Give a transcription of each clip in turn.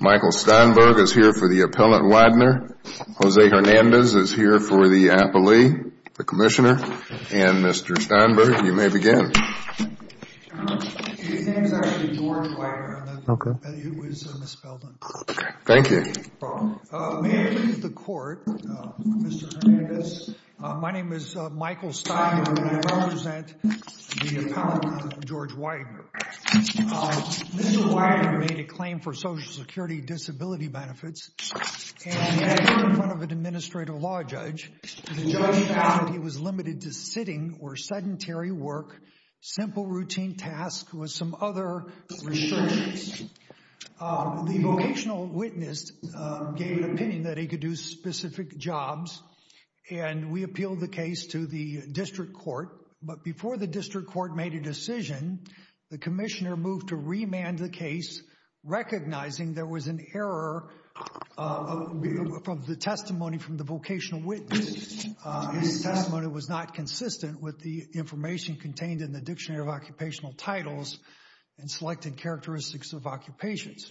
Michael Steinberg is here for the Appellant Weidner, Jose Hernandez is here for the Appellee, the Commissioner, and Mr. Steinberg, you may begin. His name is actually George Weidner. Okay. It was misspelled on purpose. Okay. Thank you. May I please have the Court, Mr. Hernandez, my name is Michael Steinberg and I represent the Appellant, George Weidner. Mr. Weidner made a claim for Social Security disability benefits and in front of an Administrative Law Judge, the judge found that he was limited to sitting or sedentary work, simple routine tasks with some other restrictions. The vocational witness gave an opinion that he could do specific jobs and we appealed the case to the District Court, but before the District Court made a decision, the Commissioner moved to remand the case, recognizing there was an error from the testimony from the vocational witness. His testimony was not consistent with the information contained in the Dictionary of Occupational Titles and Selected Characteristics of Occupations.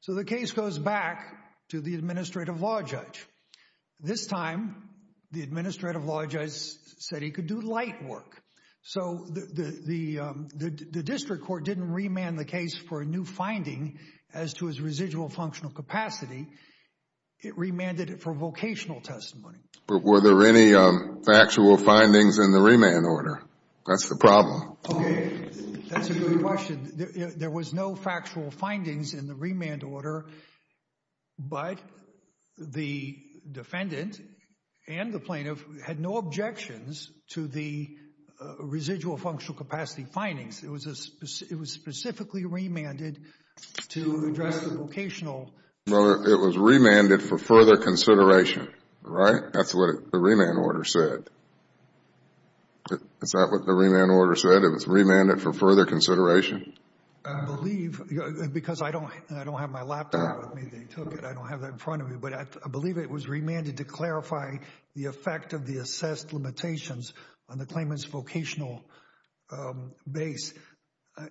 So the case goes back to the Administrative Law Judge. This time, the Administrative Law Judge said he could do light work. So the District Court didn't remand the case for a new finding as to his residual functional capacity. It remanded it for vocational testimony. But were there any factual findings in the remand order? That's the problem. That's a good question. There was no factual findings in the remand order, but the defendant and the plaintiff had no objections to the residual functional capacity findings. It was specifically remanded to address the vocational. Well, it was remanded for further consideration, right? That's what the remand order said. Is that what the remand order said? That it was remanded for further consideration? I believe, because I don't have my laptop with me. They took it. I don't have that in front of me. But I believe it was remanded to clarify the effect of the assessed limitations on the claimant's vocational base.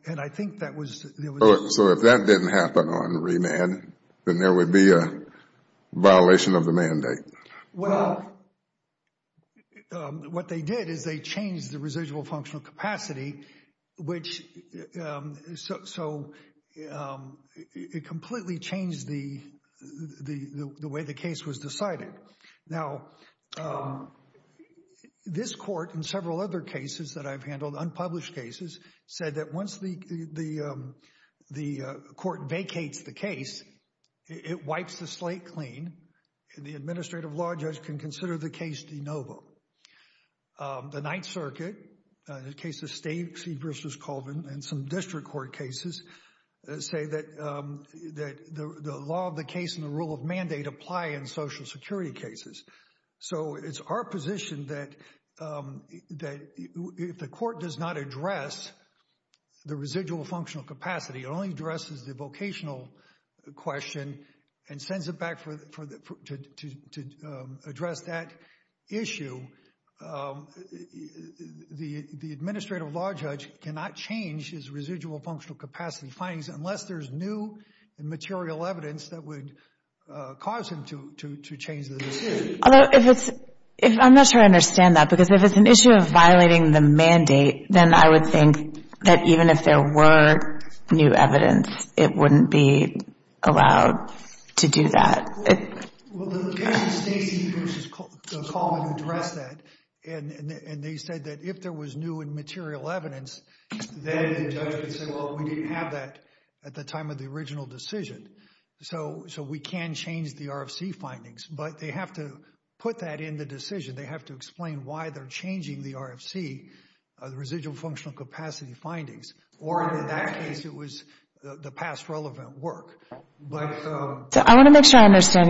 And I think that was So if that didn't happen on remand, then there would be a violation of the mandate. Well, what they did is they changed the residual functional capacity, so it completely changed the way the case was decided. Now, this court and several other cases that I've handled, unpublished cases, said that once the court vacates the case, it wipes the slate clean. The administrative law judge can consider the case de novo. The Ninth Circuit, the case of Stacey v. Colvin, and some district court cases say that the law of the case and the rule of mandate apply in Social Security cases. So it's our position that if the court does not address the residual functional capacity, it only addresses the vocational question and sends it back to address that issue, the administrative law judge cannot change his residual functional capacity findings unless there's new and material evidence that would cause him to change the decision. I'm not sure I understand that, because if it's an issue of violating the mandate, then I would think that even if there were new evidence, it wouldn't be allowed to do that. Well, the case of Stacey v. Colvin addressed that, and they said that if there was new and material evidence, then the judge would say, well, we didn't have that at the time of the original decision. So we can change the RFC findings, but they have to put that in the decision. They have to explain why they're changing the RFC, the residual functional capacity findings. Or in that case, it was the past relevant work. I want to make sure I understand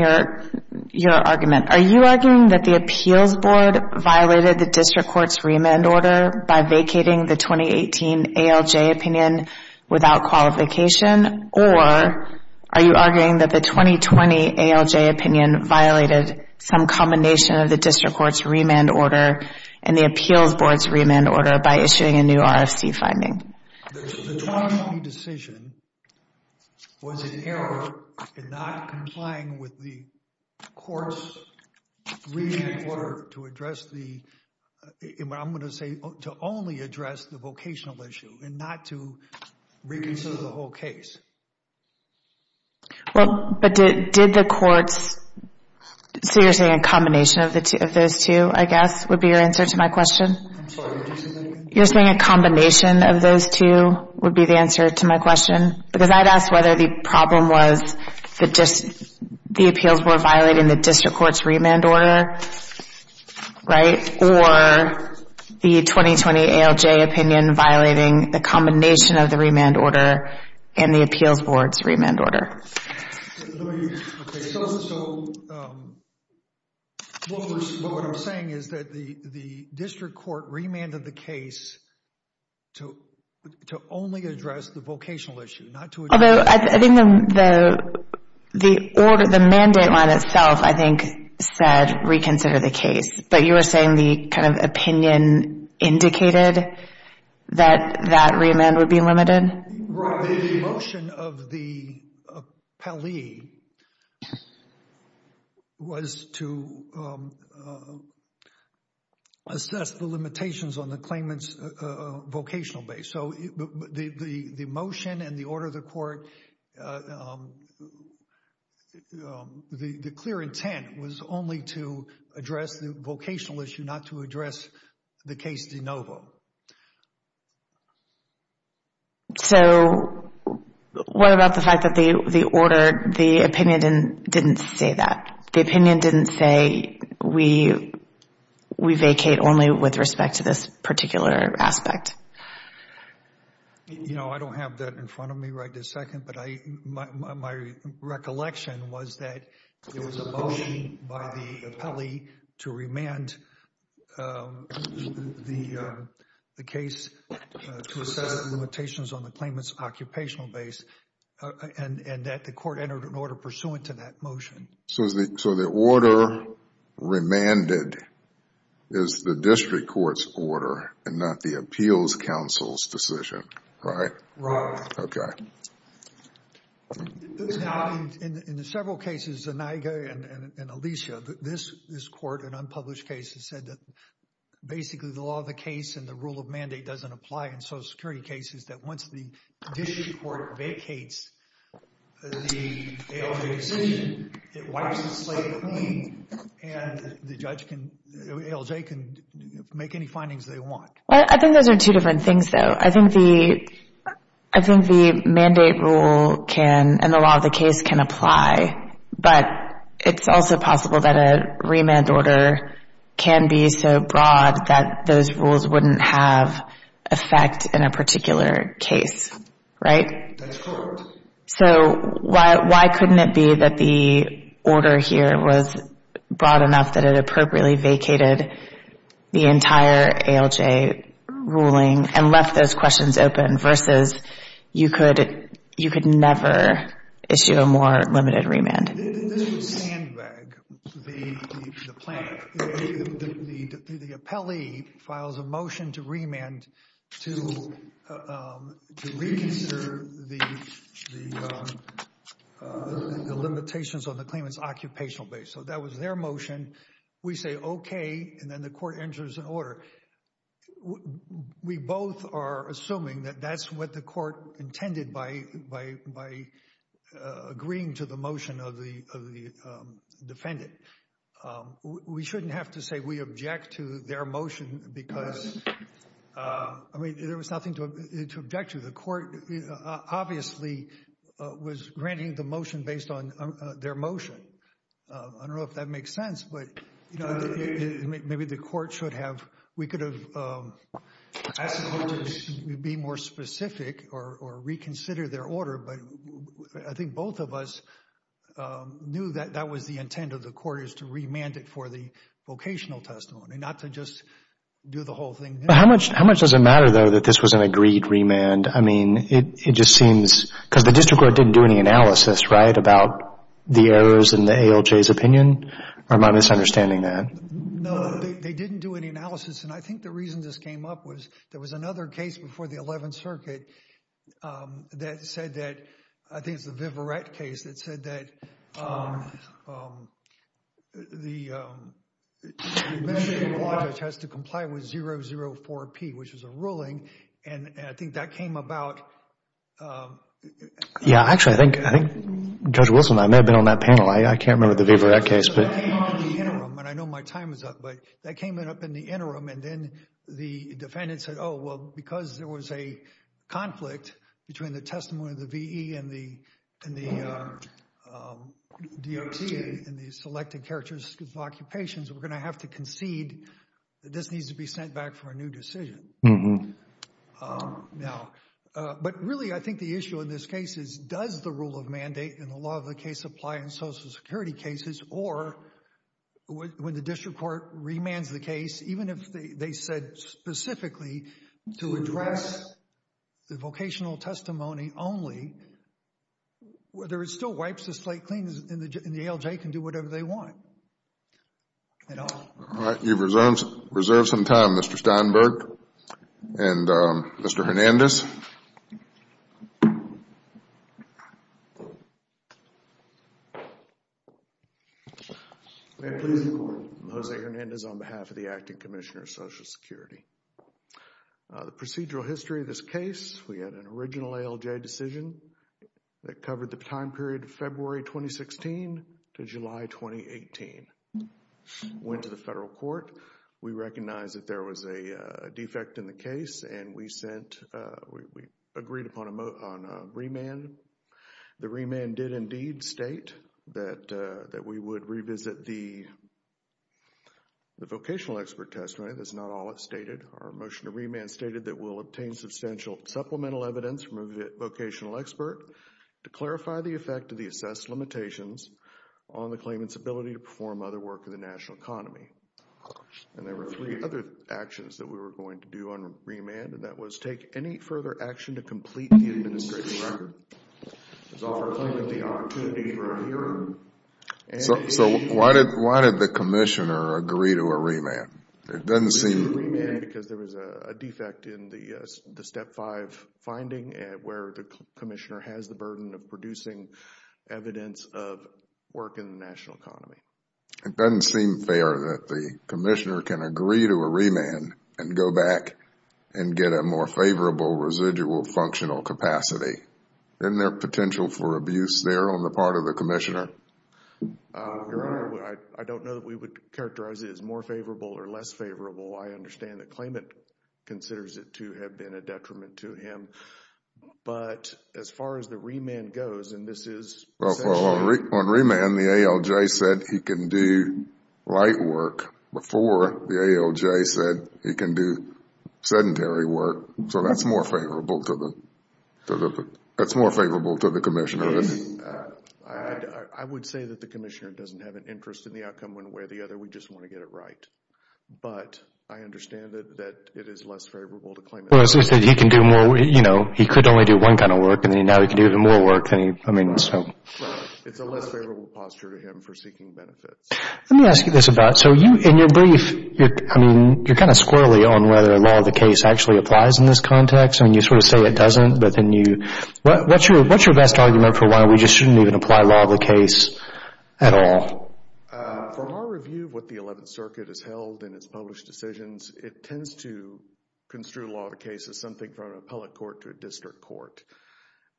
your argument. Are you arguing that the appeals board violated the district court's remand order by vacating the 2018 ALJ opinion without qualification, or are you arguing that the 2020 ALJ opinion violated some combination of the district court's remand order and the appeals board's remand order by issuing a new RFC finding? The 2020 decision was an error in not complying with the court's remand order to address the, what I'm going to say, to only address the vocational issue and not to reconsider the whole case. Well, but did the courts, so you're saying a combination of those two, I guess, would be your answer to my question? I'm sorry, did you say that again? You're saying a combination of those two would be the answer to my question? Because I'd ask whether the problem was the appeals board violating the district court's remand order, right? Or the 2020 ALJ opinion violating the combination of the remand order and the appeals board's remand order. Okay, so what I'm saying is that the district court remanded the case to only address the vocational issue. Although, I think the mandate line itself, I think, said reconsider the case. But you were saying the kind of opinion indicated that that remand would be limited? Right, the motion of the PLE was to assess the limitations on the claimant's vocational base. So the motion and the order of the court, the clear intent was only to address the vocational issue, not to address the case de novo. So what about the fact that the opinion didn't say that? The opinion didn't say we vacate only with respect to this particular aspect? You know, I don't have that in front of me right this second. But my recollection was that there was a motion by the PLE to remand the case to assess the limitations on the claimant's occupational base. And that the court entered an order pursuant to that motion. So the order remanded is the district court's order and not the appeals council's decision, right? Right. Okay. Now, in the several cases, Zaniga and Alicia, this court, an unpublished case, has said that basically the law of the case and the rule of mandate doesn't apply in Social Security cases, that once the district court vacates the ALJ decision, it wipes the slate clean and the judge can, ALJ can make any findings they want. I think those are two different things, though. I think the mandate rule can and the law of the case can apply, but it's also possible that a remand order can be so broad that those rules wouldn't have effect in a particular case, right? That's correct. So why couldn't it be that the order here was broad enough that it appropriately vacated the entire ALJ ruling and left those questions open versus you could never issue a more limited remand? This was Sandbag, the planner. The appellee files a motion to remand to reconsider the limitations on the claimant's occupational base. So that was their motion. We say okay, and then the court enters an order. We both are assuming that that's what the court intended by agreeing to the motion of the defendant. We shouldn't have to say we object to their motion because, I mean, there was nothing to object to. The court obviously was granting the motion based on their motion. I don't know if that makes sense, but maybe the court should have, we could have asked the court to be more specific or reconsider their order, but I think both of us knew that that was the intent of the court is to remand it for the vocational testimony, not to just do the whole thing. How much does it matter, though, that this was an agreed remand? I mean, it just seems, because the district court didn't do any analysis, right, about the errors in the ALJ's opinion, or am I misunderstanding that? No, they didn't do any analysis, and I think the reason this came up was there was another case before the 11th Circuit that said that, I think it's the Viverette case, that said that the measure in the law has to comply with 004P, which was a ruling, and I think that came about. Yeah, actually, I think Judge Wilson and I may have been on that panel. I can't remember the Viverette case. It came up in the interim, and I know my time is up, but that came up in the interim, and then the defendant said, oh, well, because there was a conflict between the testimony of the VE and the DOT and the selected characters of occupations, we're going to have to concede that this needs to be sent back for a new decision. Now, but really, I think the issue in this case is, does the rule of mandate in the law of the case apply in social security cases, or when the district court remands the case, even if they said specifically to address the vocational testimony only, whether it still wipes the slate clean and the ALJ can do whatever they want at all. All right. You've reserved some time, Mr. Steinberg and Mr. Hernandez. May I please report? I'm Jose Hernandez on behalf of the Acting Commissioner of Social Security. The procedural history of this case, we had an original ALJ decision that covered the time period of February 2016 to July 2018. Went to the federal court. We recognized that there was a defect in the case, and we sent, we agreed upon a remand. The remand did indeed state that we would revisit the vocational expert testimony. That's not all it stated. Our motion to remand stated that we'll obtain substantial supplemental evidence from a vocational expert to clarify the effect of the assessed limitations on the claimant's ability to perform other work in the national economy. And there were three other actions that we were going to do on remand, and that was take any further action to complete the administration record, to offer a claimant the opportunity for a hearing. So why did the commissioner agree to a remand? It doesn't seem because there was a defect in the Step 5 finding where the commissioner has the burden of producing evidence of work in the national economy. It doesn't seem fair that the commissioner can agree to a remand and go back and get a more favorable residual functional capacity. Isn't there potential for abuse there on the part of the commissioner? Your Honor, I don't know that we would characterize it as more favorable or less favorable. I understand the claimant considers it to have been a detriment to him. But as far as the remand goes, and this is essentially... Well, on remand, the ALJ said he can do light work before the ALJ said he can do sedentary work. So that's more favorable to the commissioner, isn't it? I would say that the commissioner doesn't have an interest in the outcome one way or the other. We just want to get it right. But I understand that it is less favorable to claim... He could only do one kind of work, and now he can do even more work. It's a less favorable posture to him for seeking benefits. Let me ask you this. In your brief, you're kind of squirrelly on whether the law of the case actually applies in this context. You sort of say it doesn't, but then you... What's your best argument for why we just shouldn't even apply law of the case at all? Well, from our review of what the Eleventh Circuit has held in its published decisions, it tends to construe law of the case as something from an appellate court to a district court.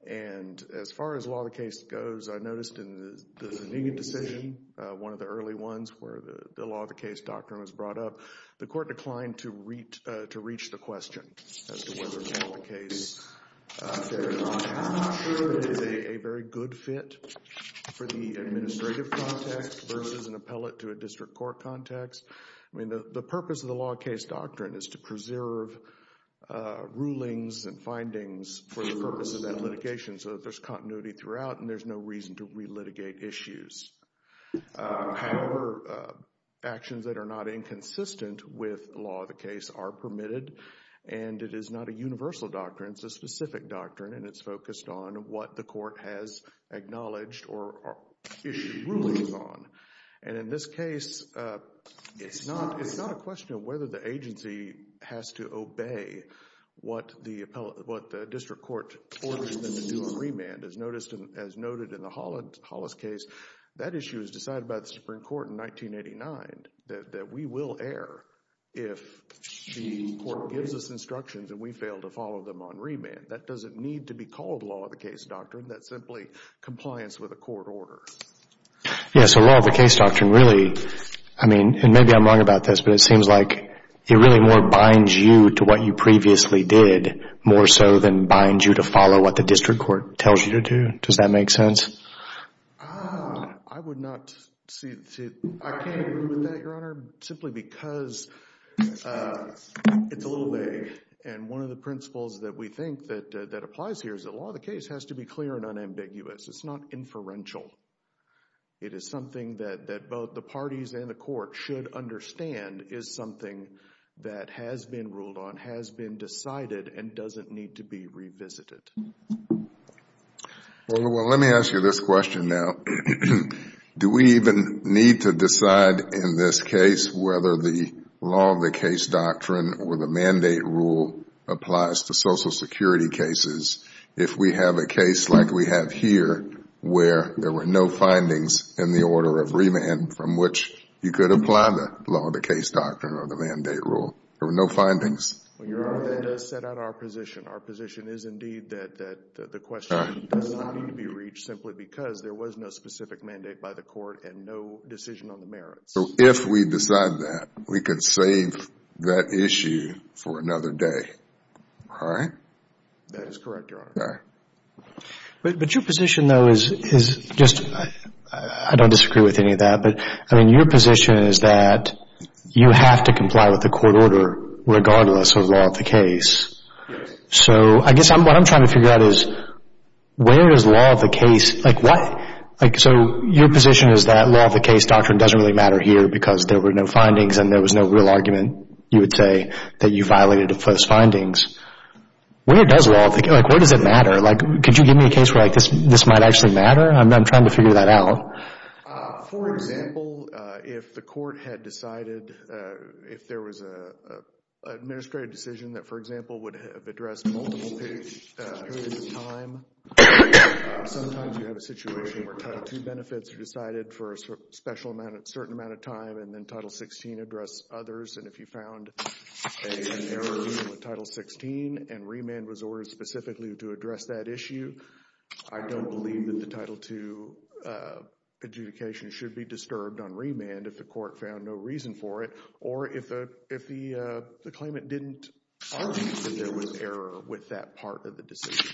And as far as law of the case goes, I noticed in the Zaniga decision, one of the early ones where the law of the case doctrine was brought up, the court declined to reach the question as to whether or not the case carries on. I'm not sure it is a very good fit for the administrative context versus an appellate to a district court context. The purpose of the law of case doctrine is to preserve rulings and findings for the purpose of that litigation so that there's continuity throughout and there's no reason to relitigate issues. However, actions that are not inconsistent with law of the case are permitted, and it is not a universal doctrine. It's a specific doctrine, and it's focused on what the court has acknowledged or issued rulings on. And in this case, it's not a question of whether the agency has to obey what the district court orders them to do in remand. As noted in the Hollis case, that issue was decided by the Supreme Court in 1989, that we will err if the court gives us instructions and we fail to follow them on remand. That doesn't need to be called law of the case doctrine. That's simply compliance with a court order. Yes, so law of the case doctrine really, I mean, and maybe I'm wrong about this, but it seems like it really more binds you to what you previously did, more so than binds you to follow what the district court tells you to do. Does that make sense? I would not see it. I can't agree with that, Your Honor, simply because it's a little vague. And one of the principles that we think that applies here is that law of the case has to be clear and unambiguous. It's not inferential. It is something that both the parties and the court should understand is something that has been ruled on, has been decided, and doesn't need to be revisited. Well, let me ask you this question now. Do we even need to decide in this case whether the law of the case doctrine or the mandate rule applies to Social Security cases if we have a case like we have here where there were no findings in the order of remand from which you could apply the law of the case doctrine or the mandate rule? There were no findings. Your Honor, that does set out our position. Our position is indeed that the question does not need to be reached simply because there was no specific mandate by the court and no decision on the merits. So if we decide that, we could save that issue for another day, all right? That is correct, Your Honor. But your position, though, is just, I don't disagree with any of that, but I mean your position is that you have to comply with the court order regardless of law of the case. Yes. So I guess what I'm trying to figure out is where does law of the case, like why, like so your position is that law of the case doctrine doesn't really matter here because there were no findings and there was no real argument, you would say, that you violated those findings. Where does law of the case, like where does it matter? Like could you give me a case where this might actually matter? I'm trying to figure that out. For example, if the court had decided, if there was an administrative decision that, for example, would have addressed multiple pages of time, sometimes you have a situation where Title II benefits are decided for a special amount, a certain amount of time, and then Title XVI addressed others, and if you found an error in the Title XVI and remand was ordered specifically to address that issue, I don't believe that the Title II adjudication should be disturbed on remand if the court found no reason for it or if the claimant didn't argue that there was an error with that part of the decision.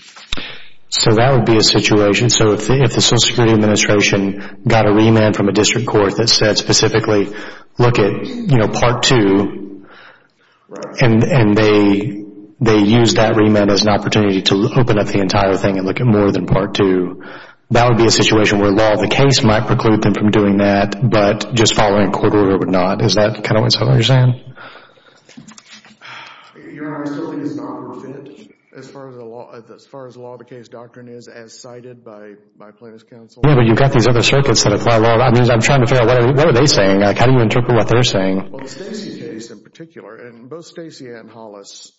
So that would be a situation. So if the Social Security Administration got a remand from a district court that said specifically look at Part II and they used that remand as an opportunity to open up the entire thing and look at more than Part II, that would be a situation where law of the case might preclude them from doing that, but just following a court order would not. Is that kind of what you're saying? Your Honor, I still think it's not perfect as far as the law of the case doctrine is, as cited by plaintiff's counsel. Yeah, but you've got these other circuits that apply law. That means I'm trying to figure out what are they saying? How do you interpret what they're saying? Well, the Stacey case in particular, and both Stacey and Hollis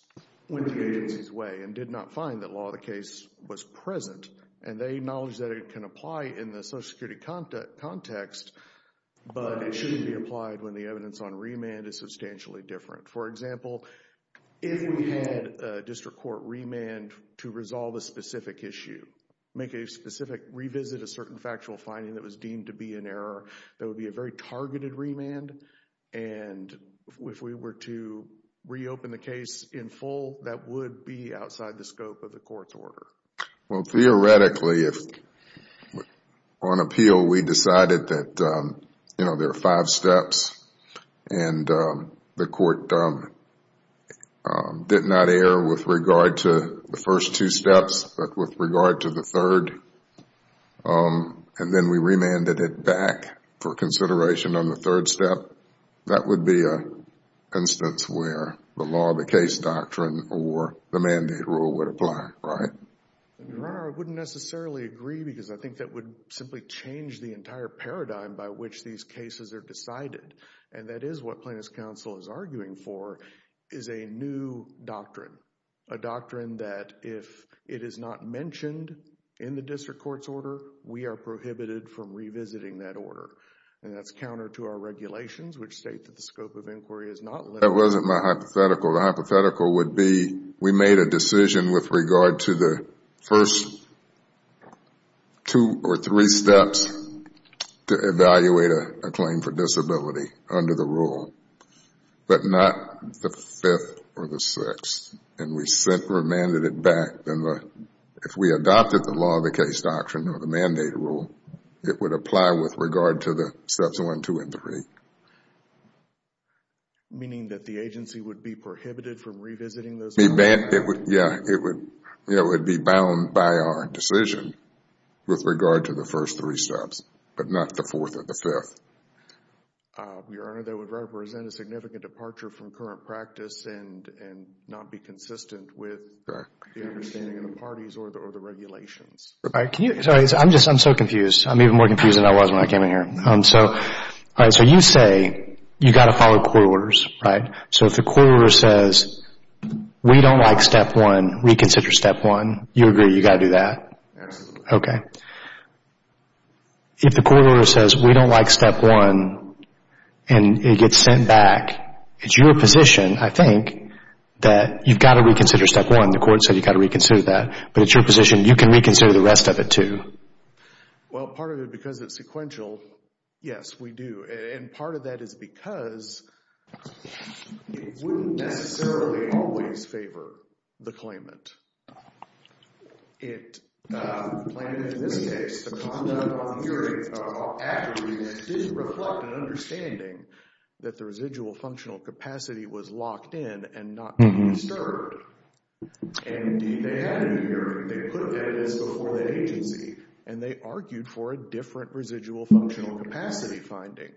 went the agency's way and did not find that law of the case was present, and they acknowledge that it can apply in the Social Security context, but it shouldn't be applied when the evidence on remand is substantially different. For example, if we had a district court remand to resolve a specific issue, make a specific revisit a certain factual finding that was deemed to be an error, that would be a very targeted remand, and if we were to reopen the case in full, that would be outside the scope of the court's order. Well, theoretically, if on appeal we decided that there are five steps and the court did not err with regard to the first two steps but with regard to the third, and then we remanded it back for consideration on the third step, that would be an instance where the law of the case doctrine or the mandate rule would apply, right? Your Honor, I wouldn't necessarily agree because I think that would simply change the entire paradigm by which these cases are decided, and that is what plaintiff's counsel is arguing for, is a new doctrine, a doctrine that if it is not mentioned in the district court's order, we are prohibited from revisiting that order, and that's counter to our regulations, which state that the scope of inquiry is not limited. That wasn't my hypothetical. The hypothetical would be we made a decision with regard to the first two or three steps to evaluate a claim for disability under the rule, but not the fifth or the sixth, and we remanded it back. Then if we adopted the law of the case doctrine or the mandate rule, it would apply with regard to the steps one, two, and three. Meaning that the agency would be prohibited from revisiting those rules? Yeah, it would be bound by our decision with regard to the first three steps, but not the fourth or the fifth. Your Honor, that would represent a significant departure from current practice and not be consistent with the understanding of the parties or the regulations. I'm so confused. I'm even more confused than I was when I came in here. So you say you've got to follow court orders, right? So if the court order says we don't like step one, reconsider step one, you agree you've got to do that? Absolutely. Okay. If the court order says we don't like step one and it gets sent back, it's your position, I think, that you've got to reconsider step one. The court said you've got to reconsider that. But it's your position you can reconsider the rest of it too. Well, part of it because it's sequential, yes, we do. And part of that is because it wouldn't necessarily always favor the claimant. It, the claimant in this case, the conduct on the hearing accurately did reflect an understanding that the residual functional capacity was locked in and not disturbed. And, indeed, they had a hearing. They put evidence before the agency, and they argued for a different residual functional capacity finding.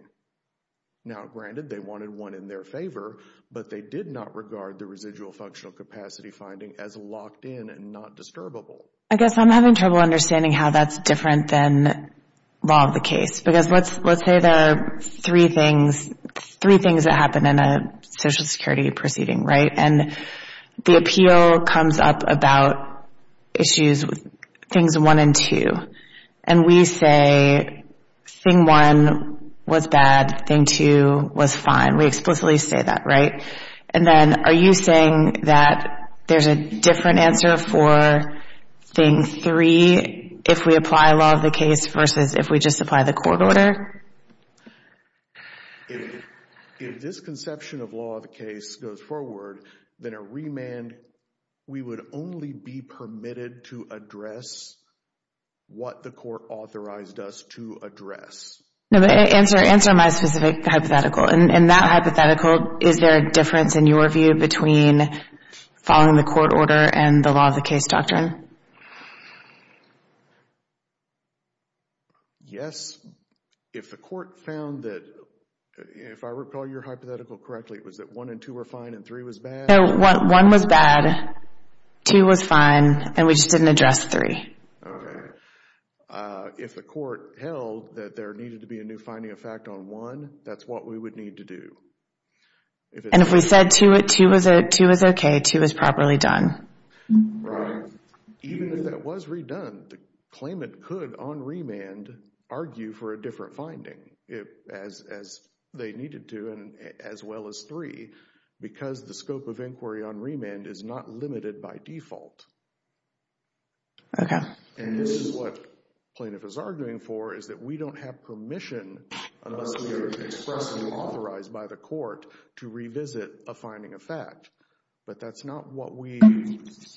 Now, granted, they wanted one in their favor, but they did not regard the residual functional capacity finding as locked in and not disturbable. I guess I'm having trouble understanding how that's different than law of the case. Because let's say there are three things that happen in a Social Security proceeding, right? And the appeal comes up about issues, things one and two. And we say thing one was bad, thing two was fine. We explicitly say that, right? And then are you saying that there's a different answer for thing three if we apply law of the case versus if we just apply the court order? If this conception of law of the case goes forward, then a remand, we would only be permitted to address what the court authorized us to address. No, but answer my specific hypothetical. In that hypothetical, is there a difference, in your view, between following the court order and the law of the case doctrine? Yes. If the court found that, if I recall your hypothetical correctly, it was that one and two were fine and three was bad? No, one was bad, two was fine, and we just didn't address three. Okay. If the court held that there needed to be a new finding of fact on one, that's what we would need to do. And if we said two was okay, two was properly done? Right. Even if that was redone, the claimant could on remand argue for a different finding as they needed to and as well as three, because the scope of inquiry on remand is not limited by default. Okay. And this is what plaintiff is arguing for, is that we don't have permission unless we are expressly authorized by the court to revisit a finding of fact. But that's not what we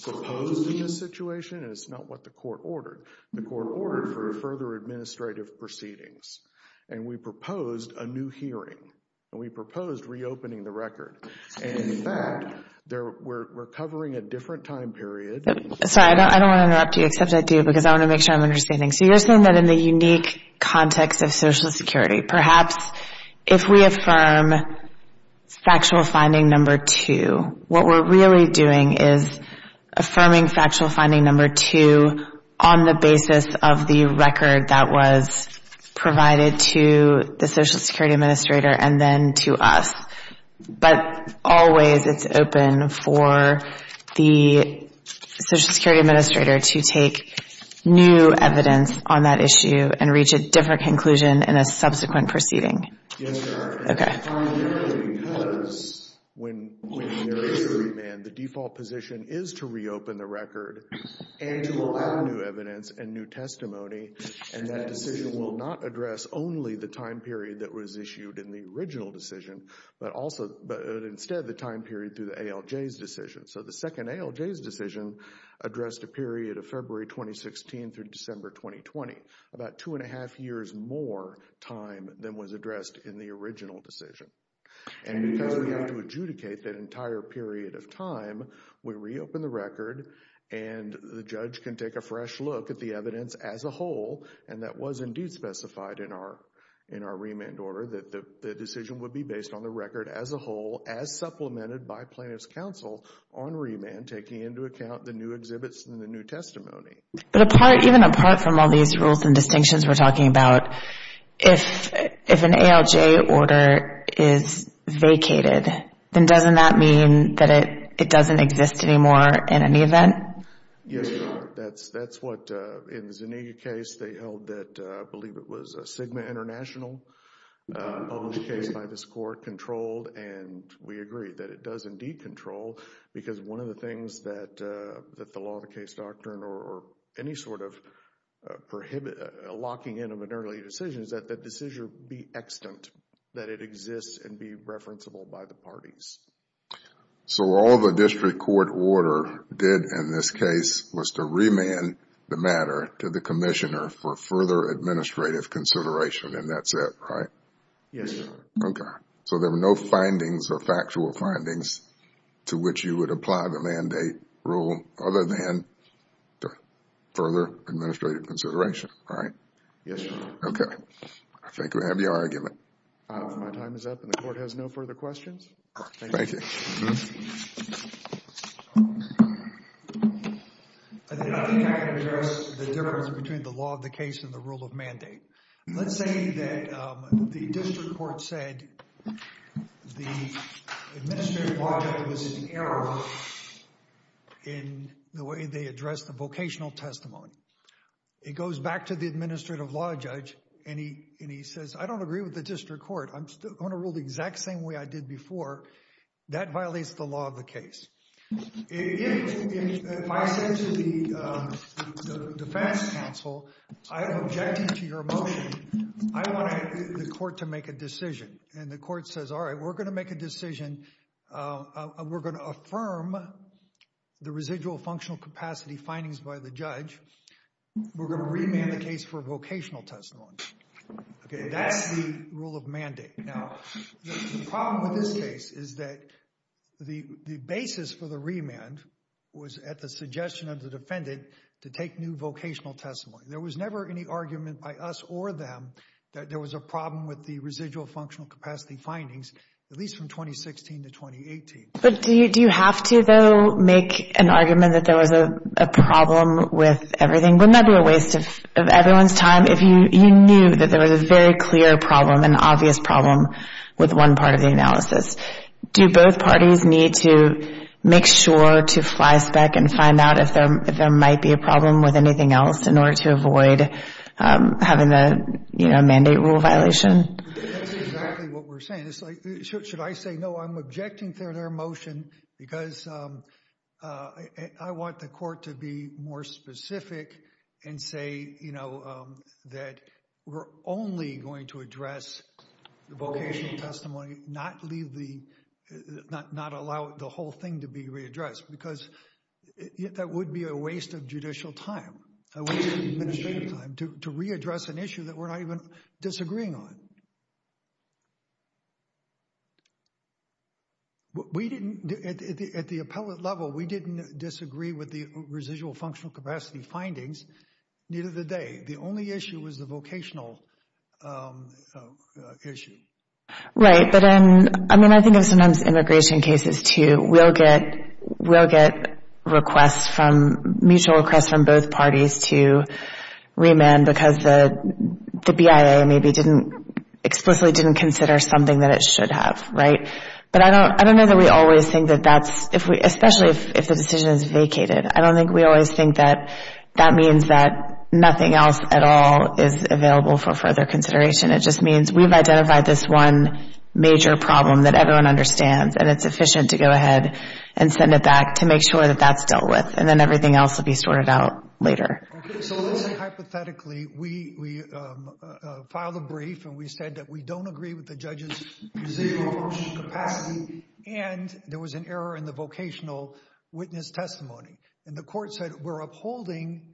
proposed in this situation, and it's not what the court ordered. The court ordered for further administrative proceedings, and we proposed a new hearing, and we proposed reopening the record. In fact, we're covering a different time period. Sorry, I don't want to interrupt you, except I do, because I want to make sure I'm understanding. So you're saying that in the unique context of Social Security, perhaps if we affirm factual finding number two, what we're really doing is affirming factual finding number two on the basis of the record that was provided to the Social Security Administrator and then to us. But always it's open for the Social Security Administrator to take new evidence on that issue and reach a different conclusion in a subsequent proceeding. Yes, Your Honor. Okay. Primarily because when there is a remand, the default position is to reopen the record and to allow new evidence and new testimony, and that decision will not address only the time period that was issued in the original decision, but instead the time period through the ALJ's decision. So the second ALJ's decision addressed a period of February 2016 through December 2020, about two and a half years more time than was addressed in the original decision. And because we had to adjudicate that entire period of time, we reopened the record, and the judge can take a fresh look at the evidence as a whole, and that was indeed specified in our remand order, that the decision would be based on the record as a whole as supplemented by plaintiff's counsel on remand, taking into account the new exhibits and the new testimony. But even apart from all these rules and distinctions we're talking about, if an ALJ order is vacated, then doesn't that mean that it doesn't exist anymore in any event? Yes, Your Honor. That's what, in the Zuniga case, they held that, I believe it was Sigma International, published case by this court, controlled, and we agree that it does indeed control because one of the things that the law of the case doctrine or any sort of locking in of an early decision is that that decision be extant, that it exists and be referenceable by the parties. So all the district court order did in this case was to remand the matter to the commissioner for further administrative consideration, and that's it, right? Yes, Your Honor. Okay. So there were no findings or factual findings to which you would apply the mandate rule other than further administrative consideration, right? Yes, Your Honor. Okay. I think we have your argument. My time is up, and the court has no further questions. Thank you. Thank you. I think I can address the difference between the law of the case and the rule of mandate. Let's say that the district court said the administrative law judge was in error in the way they addressed the vocational testimony. It goes back to the administrative law judge, and he says, I don't agree with the district court. I'm still going to rule the exact same way I did before. That violates the law of the case. If I say to the defense counsel, I object to your motion, I want the court to make a decision, and the court says, all right, we're going to make a decision. We're going to affirm the residual functional capacity findings by the judge. We're going to remand the case for vocational testimony. Okay, that's the rule of mandate. Now, the problem with this case is that the basis for the remand was at the suggestion of the defendant to take new vocational testimony. There was never any argument by us or them that there was a problem with the residual functional capacity findings, at least from 2016 to 2018. But do you have to, though, make an argument that there was a problem with everything? Wouldn't that be a waste of everyone's time if you knew that there was a very clear problem, an obvious problem, with one part of the analysis? Do both parties need to make sure to fly spec and find out if there might be a problem with anything else in order to avoid having a mandate rule violation? That's exactly what we're saying. Should I say, no, I'm objecting to their motion because I want the court to be more specific and say that we're only going to address the vocational testimony, not allow the whole thing to be readdressed because that would be a waste of judicial time, a waste of administrative time, to readdress an issue that we're not even disagreeing on. At the appellate level, we didn't disagree with the residual functional capacity findings. Neither did they. The only issue was the vocational issue. Right, but I mean, I think of sometimes immigration cases, too. We'll get mutual requests from both parties to remand because the BIA maybe explicitly didn't consider something that it should have. But I don't know that we always think that that's, especially if the decision is vacated, I don't think we always think that that means that nothing else at all is available for further consideration. It just means we've identified this one major problem that everyone understands and it's efficient to go ahead and send it back to make sure that that's dealt with and then everything else will be sorted out later. Okay, so let's say hypothetically we filed a brief and we said that we don't agree with the judge's residual functional capacity and there was an error in the vocational witness testimony and the court said we're upholding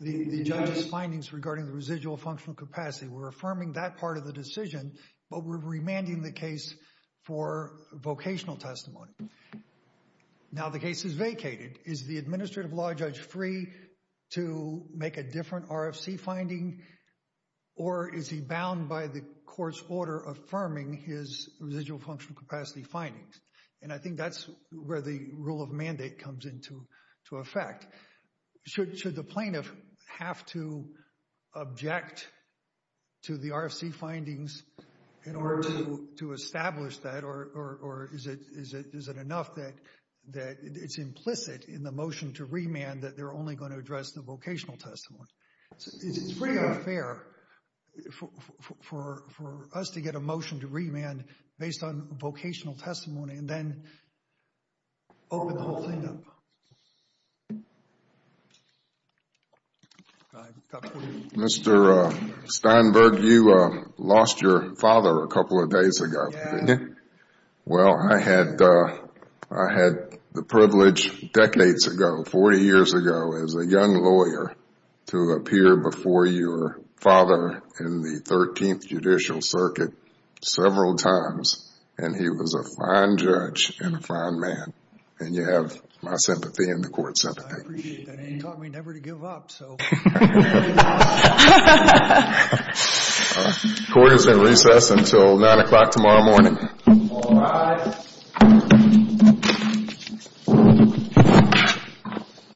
the judge's findings regarding the residual functional capacity. We're affirming that part of the decision, but we're remanding the case for vocational testimony. Now the case is vacated. Is the administrative law judge free to make a different RFC finding or is he bound by the court's order affirming his residual functional capacity findings? And I think that's where the rule of mandate comes into effect. Should the plaintiff have to object to the RFC findings in order to establish that or is it enough that it's implicit in the motion to remand that they're only going to address the vocational testimony? It's pretty unfair for us to get a motion to remand based on vocational testimony and then open the whole thing up. Mr. Steinberg, you lost your father a couple of days ago. Yeah. Well, I had the privilege decades ago, 40 years ago, as a young lawyer, to appear before your father in the 13th Judicial Circuit several times, and he was a fine judge and a fine man, and you have my sympathy and the court's sympathy. I appreciate that. He taught me never to give up, so. Court is in recess until 9 o'clock tomorrow morning. All rise.